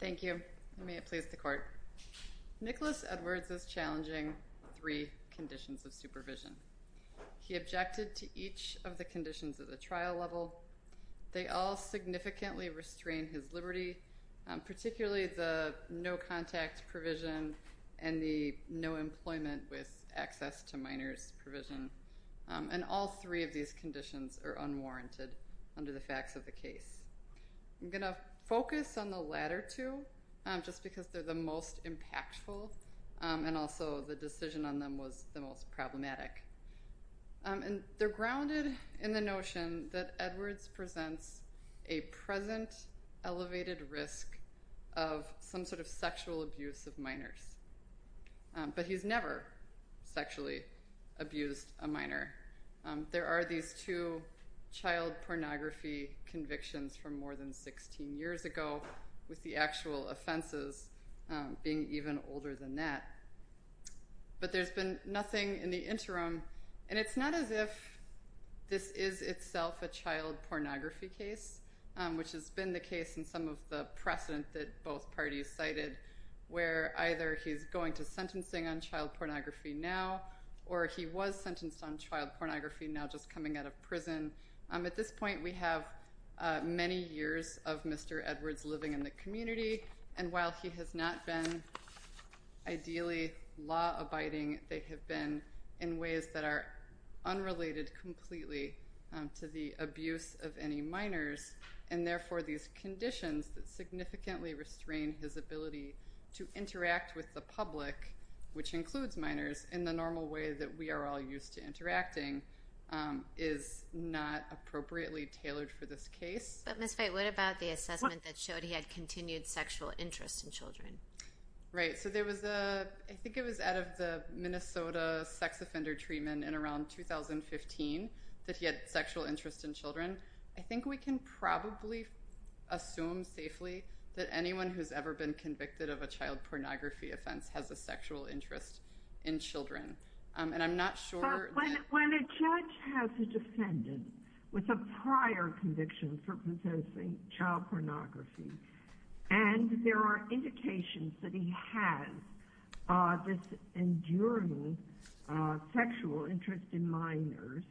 Thank you, and may it please the court. Nicholas Edwards is challenging three conditions of supervision. He objected to each of the conditions at the trial level. They all significantly restrain his liberty, particularly the no contact provision and the no employment with access to minors provision. And all three of these conditions are unwarranted under the facts of the case. I'm going to focus on the latter two, just because they're the most impactful, and also the decision on them was the most problematic. And they're grounded in the notion that Edwards presents a present elevated risk of some sort of sexual abuse of minors. But he's never sexually abused a minor. There are these two child pornography convictions from more than 16 years ago, with the actual offenses being even older than that. But there's been nothing in the interim, and it's not as if this is itself a child pornography case, which has been the case in some of the precedent that both parties cited, where either he's going to sentencing on child pornography now, or he was sentenced on child pornography, now just coming out of prison. At this point, we have many years of Mr. Edwards living in the community, and while he has not been ideally law abiding, they have been in ways that are unrelated completely to the abuse of any minors. And his ability to interact with the public, which includes minors, in the normal way that we are all used to interacting, is not appropriately tailored for this case. But Ms. Veit, what about the assessment that showed he had continued sexual interest in children? Right. So there was a, I think it was out of the Minnesota sex offender treatment in around 2015, that he had sexual interest in children. I think we can probably assume safely that anyone who's ever been convicted of a child pornography offense has a sexual interest in children. And I'm not sure that... But when a judge has a defendant with a prior conviction for possessing child pornography, and there are indications that he has this enduring sexual interest in minors,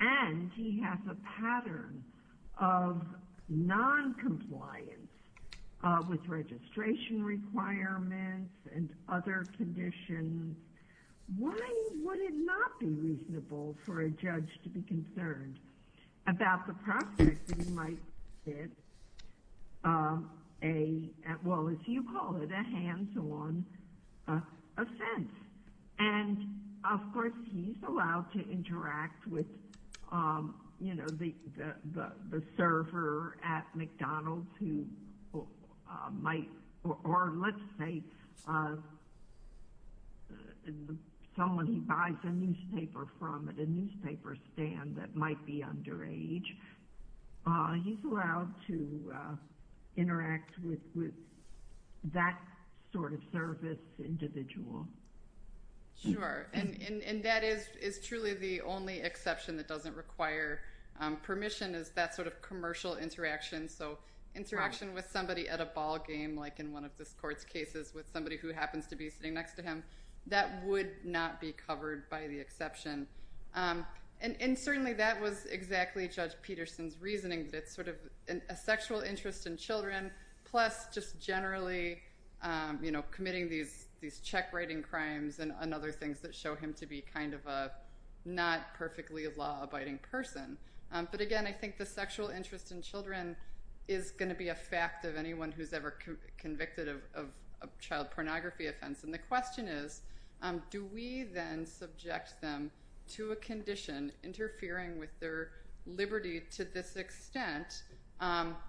and he has a pattern of non-compliance with registration requirements and other conditions, why would it not be reasonable for a judge to be concerned about the prospect that he might commit a, well, as you call it, a hands-on offense? And, of course, he's allowed to interact with the server at McDonald's who might, or let's say someone he buys a newspaper from at a newspaper stand that might be underage. He's allowed to interact with that sort of service individual. Sure. And that is truly the only exception that doesn't require permission is that sort of commercial interaction. So interaction with somebody at a ballgame, like in one of this court's cases with somebody who happens to be sitting next to him, that would not be covered by the exception. And certainly that was exactly Judge Peterson's reasoning that it's sort of a sexual interest in children, plus just generally committing these check writing crimes and other things that show him to be kind of a not-perfectly-law-abiding person. But again, I think the sexual interest in children is going to be a fact of anyone who's ever convicted of a child pornography offense. And the question is, do we then subject them to a condition interfering with their liberty to this extent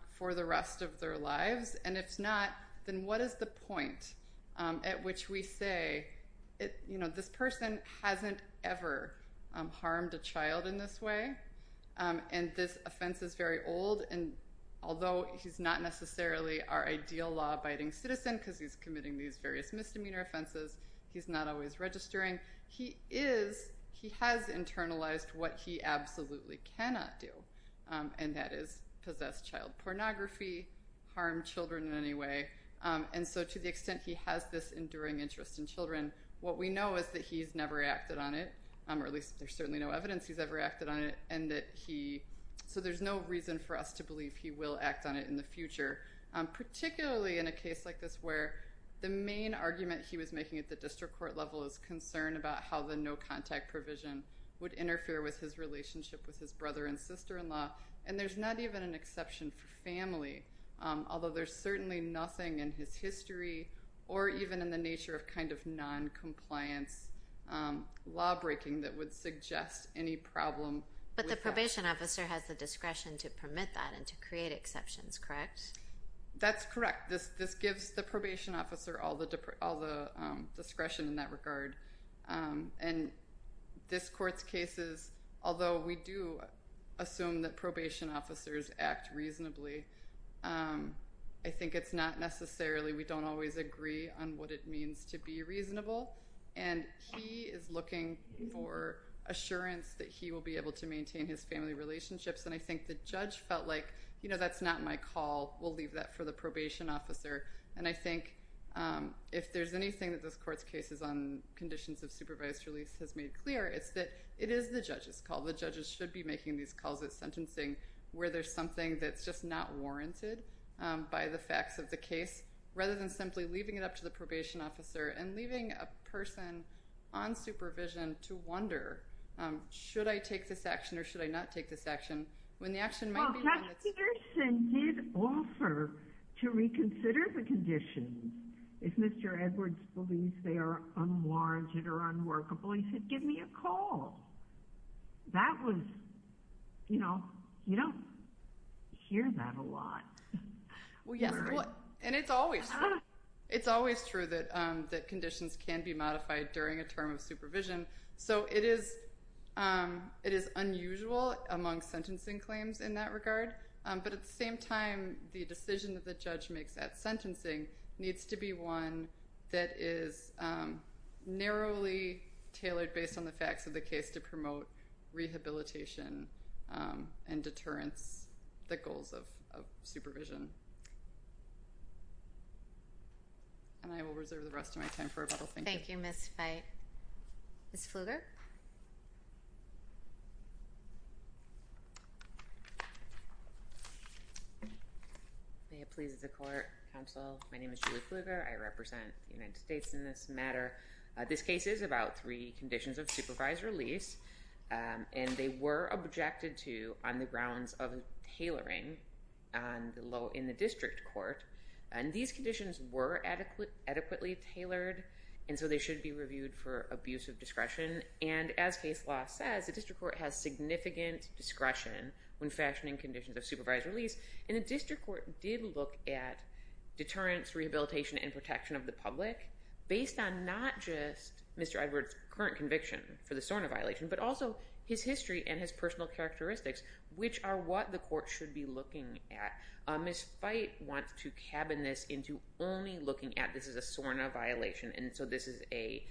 for the rest of their at which we say, you know, this person hasn't ever harmed a child in this way, and this offense is very old, and although he's not necessarily our ideal law-abiding citizen because he's committing these various misdemeanor offenses, he's not always registering, he is, he has internalized what he absolutely cannot do, and that is possess child pornography, harm children in any way. And so to the extent he has this enduring interest in children, what we know is that he's never acted on it, or at least there's certainly no evidence he's ever acted on it, and that he, so there's no reason for us to believe he will act on it in the future, particularly in a case like this where the main argument he was making at the district court level is concern about how the no-contact provision would interfere with his relationship with his brother and sister-in-law, and there's not even an exception for family, although there's certainly nothing in his history or even in the nature of kind of non-compliance law-breaking that would suggest any problem with that. But the probation officer has the discretion to permit that and to create exceptions, correct? That's correct. This gives the probation officer all the discretion in that regard, and this I think it's not necessarily, we don't always agree on what it means to be reasonable, and he is looking for assurance that he will be able to maintain his family relationships, and I think the judge felt like, you know, that's not my call, we'll leave that for the probation officer, and I think if there's anything that this court's cases on conditions of supervised release has made clear, it's that it is the judge's call, the judges should be making these calls at sentencing where there's something that's just not warranted by the facts of the case, rather than simply leaving it up to the probation officer and leaving a person on supervision to wonder, should I take this action or should I not take this action, when the action might be when it's... Well, Judge Peterson did offer to reconsider the conditions if Mr. Edwards believes they are unwarranted or unworkable. He said, give me a call. That was, you know, you don't hear that a lot. Well, yes, and it's always true that conditions can be modified during a term of supervision, so it is unusual among sentencing claims in that regard, but at the same time, the decision that the judge makes at sentencing needs to be one that is narrowly tailored based on the facts of the case to promote rehabilitation and deterrence, the goals of supervision. And I will reserve the rest of my time for rebuttal. Thank you. Thank you, Ms. Feit. Ms. Pfluger? May it please the court. Counsel, my name is Julie Pfluger. I represent the United States in this matter. This case is about three conditions of supervised release, and they were objected to on the grounds of tailoring in the district court, and these conditions were adequately tailored, and so they should be reviewed for abuse of discretion. And as case law says, the district court has significant discretion when fashioning conditions of supervised release, and the district court did look at deterrence, rehabilitation, and protection of the public based on not just Mr. Edwards' current conviction for the SORNA violation, but also his history and his personal characteristics, which are what the court should be looking at. Ms. Feit wants to cabin this into only looking at this is a SORNA violation, and so this is a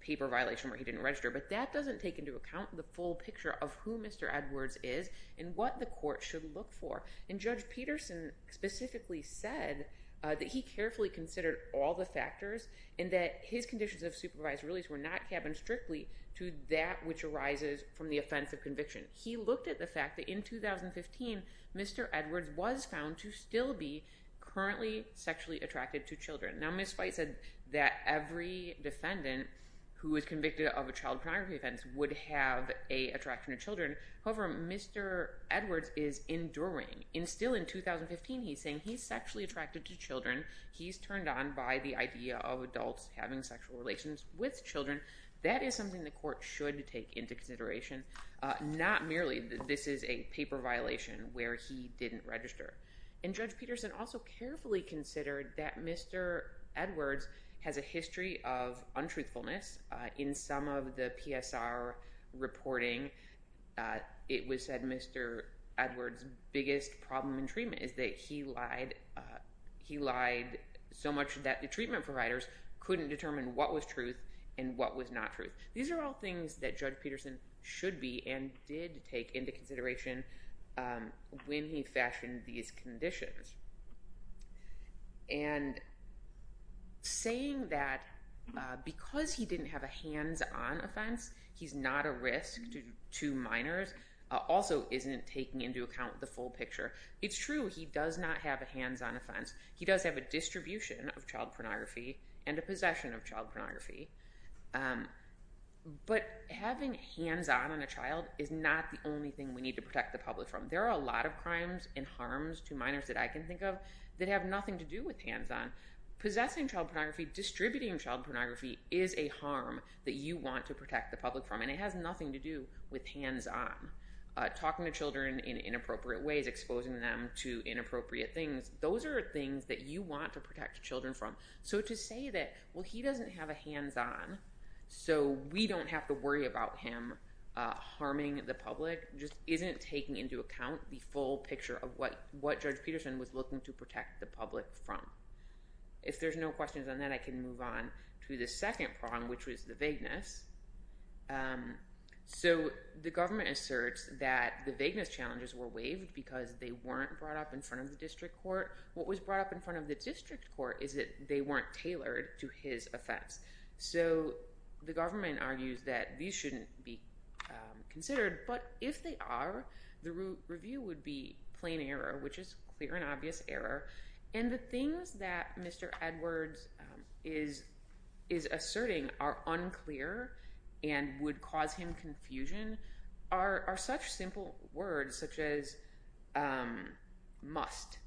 paper violation where he didn't register, but that doesn't take into account the full picture of who Mr. Edwards is and what the court should look for. And Judge Peterson specifically said that he carefully considered all the factors and that his conditions of supervised release were not cabined strictly to that which arises from the offense of conviction. He looked at the fact that in 2015, Mr. Edwards was found to still be currently sexually attracted to children. Now, Ms. Feit said that every defendant who is convicted of a child pornography offense would have an attraction to children. However, Mr. Edwards is enduring. Still in 2015, he's saying he's sexually attracted to children. He's turned on by the idea of adults having sexual relations with children. That is something the court should take into consideration, not merely that this is a paper violation where he didn't register. And Judge Peterson also carefully considered that Mr. Edwards has a history of untruthfulness. In some of the PSR reporting, it was said Mr. Edwards' biggest problem in treatment is that he lied. He lied so much that the treatment providers couldn't determine what was truth and what was not truth. These are all things that Judge Peterson should be and did take into consideration when he fashioned these conditions. And saying that because he didn't have a hands-on offense, he's not a risk to minors, also isn't taking into account the full picture. It's true, he does not have a hands-on offense. He does have a distribution of child pornography and a possession of child pornography. But having hands-on on a child is not the only thing we need to protect the public from. There are a lot of crimes and harms to minors that I can think of that have nothing to do with hands-on. Possessing child pornography, distributing child pornography, is a harm that you want to protect the public from, and it has nothing to do with hands-on. Talking to children in inappropriate things, those are things that you want to protect children from. So to say that he doesn't have a hands-on, so we don't have to worry about him harming the public, just isn't taking into account the full picture of what Judge Peterson was looking to protect the public from. If there's no questions on that, I can move on to the second problem, which was the vagueness. So the government asserts that the vagueness challenges were waived because they weren't brought up in front of the district court. What was brought up in front of the district court is that they weren't tailored to his offense. So the government argues that these shouldn't be considered, but if they are, the review would be plain error, which is clear and obvious error. And the things that Mr. Edwards is asserting are unclear and would cause him confusion are such simple words such as must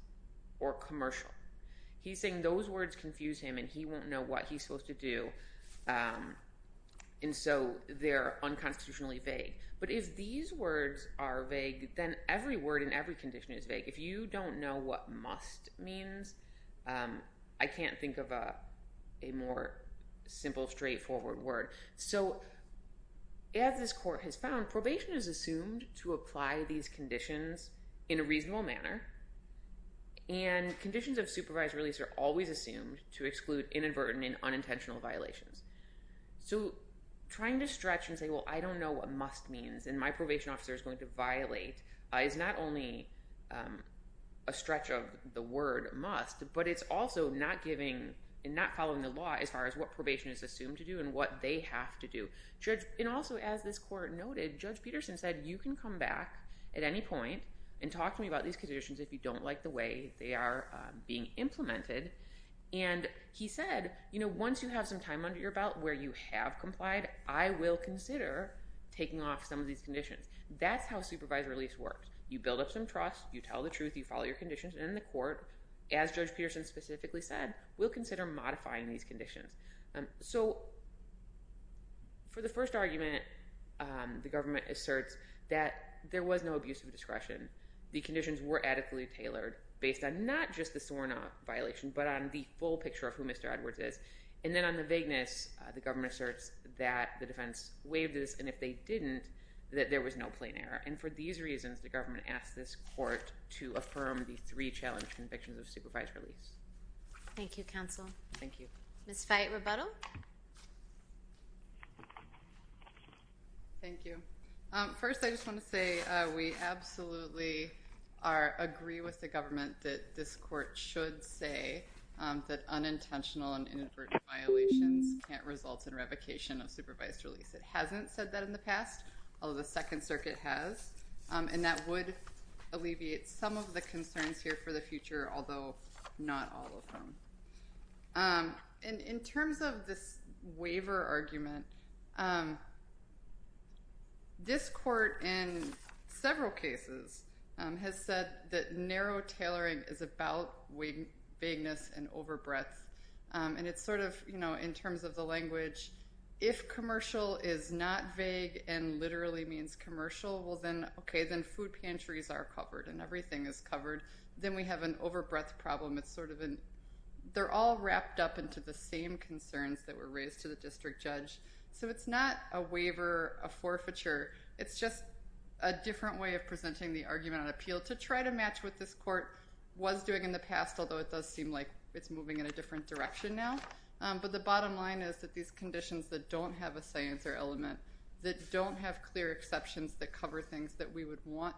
or commercial. He's saying those words confuse him and he won't know what he's supposed to do, and so they're unconstitutionally vague. But if these words are vague, then every word in every condition is vague. If you don't know what must means, I can't think of a more simple, straightforward word. So as this court has found, probation is assumed to apply these conditions in a reasonable manner, and conditions of supervised release are always assumed to exclude inadvertent and unintentional violations. So trying to stretch and say, well, I don't know what must means and my probation officer is going to violate is not only a stretch of the word must, but it's also not giving and not following the law as far as what probation is assumed to do and what they have to do. And also, as this court noted, Judge Peterson said you can come back at any point and talk to me about these conditions if you don't like the way they are being implemented. And he said, you know, once you have some time under your belt where you have complied, I will consider taking off some of these conditions. That's how supervised release works. You build up some trust, you tell the truth, you follow your conditions, and the court, as Judge Peterson specifically said, will consider modifying these conditions. So for the first argument, the government asserts that there was no abuse of discretion. The conditions were adequately tailored based on not just the sworn-off violation, but on the full picture of who Mr. Edwards is. And then on the vagueness, the government asserts that the defense waived this, and if they didn't, that there was no plain error. And for these reasons, the government asked this court to affirm the three challenged convictions of supervised release. Thank you, counsel. Thank you. Ms. Fyatt, rebuttal? Thank you. First, I just want to say we absolutely agree with the government that this court should say that unintentional and inadvertent violations can't result in revocation of supervised release. It hasn't said that in the past, although the Second Circuit has. And that would alleviate some of the concerns here for the future, although not all of them. And in terms of this waiver argument, this court in several cases has said that narrow tailoring is about vagueness and overbreadth. And it's sort of, you know, in terms of the language, if commercial is not vague and literally means commercial, well then, okay, then food pantries are covered and everything is covered. Then we have an overbreadth problem. They're all wrapped up into the same concerns that were raised to the district judge. So it's not a waiver, a forfeiture. It's just a different way of presenting the argument on appeal to try to match what this court was doing in the past, although it does seem like it's moving in a different direction now. But the bottom line is that these conditions that don't have a science or element, that don't have clear exceptions that cover things that we would want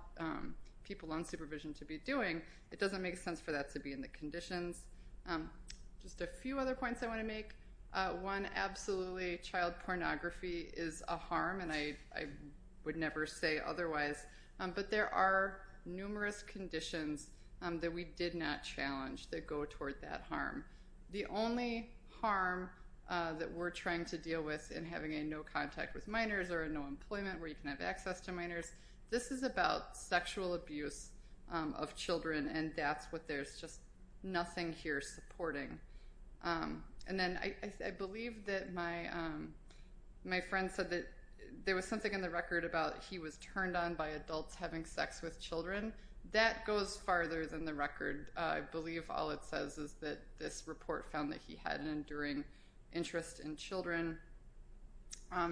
people on supervision to be doing, it doesn't make sense for that to be in the conditions. Just a few other points I want to make. One, absolutely, child pornography is a harm, and I would never say otherwise. But there are numerous conditions that we did not challenge that go toward that harm. The only harm that we're trying to deal with in having a no contact with minors or a no employment where you can have access to minors, this is about sexual abuse of children, and that's what there's just nothing here supporting. And then I believe that my friend said that there was something in the record about he was turned on by adults having sex with children. That goes farther than the record. I believe all it says is that this report found that he had an enduring interest in children. I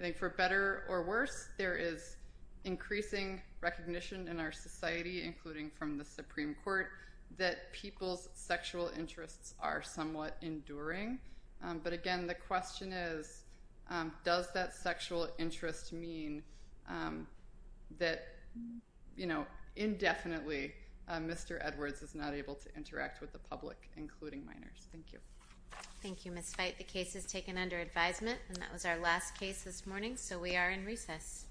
think for better or worse, there is increasing recognition in our society, including from the Supreme Court, that people's sexual interests are somewhat enduring. But again, the question is, does that sexual interest mean that indefinitely Mr. Edwards is not able to interact with the public, including minors? Thank you. Thank you, Ms. Fite. The case is taken under advisement. And that was our last case this morning, so we are in recess.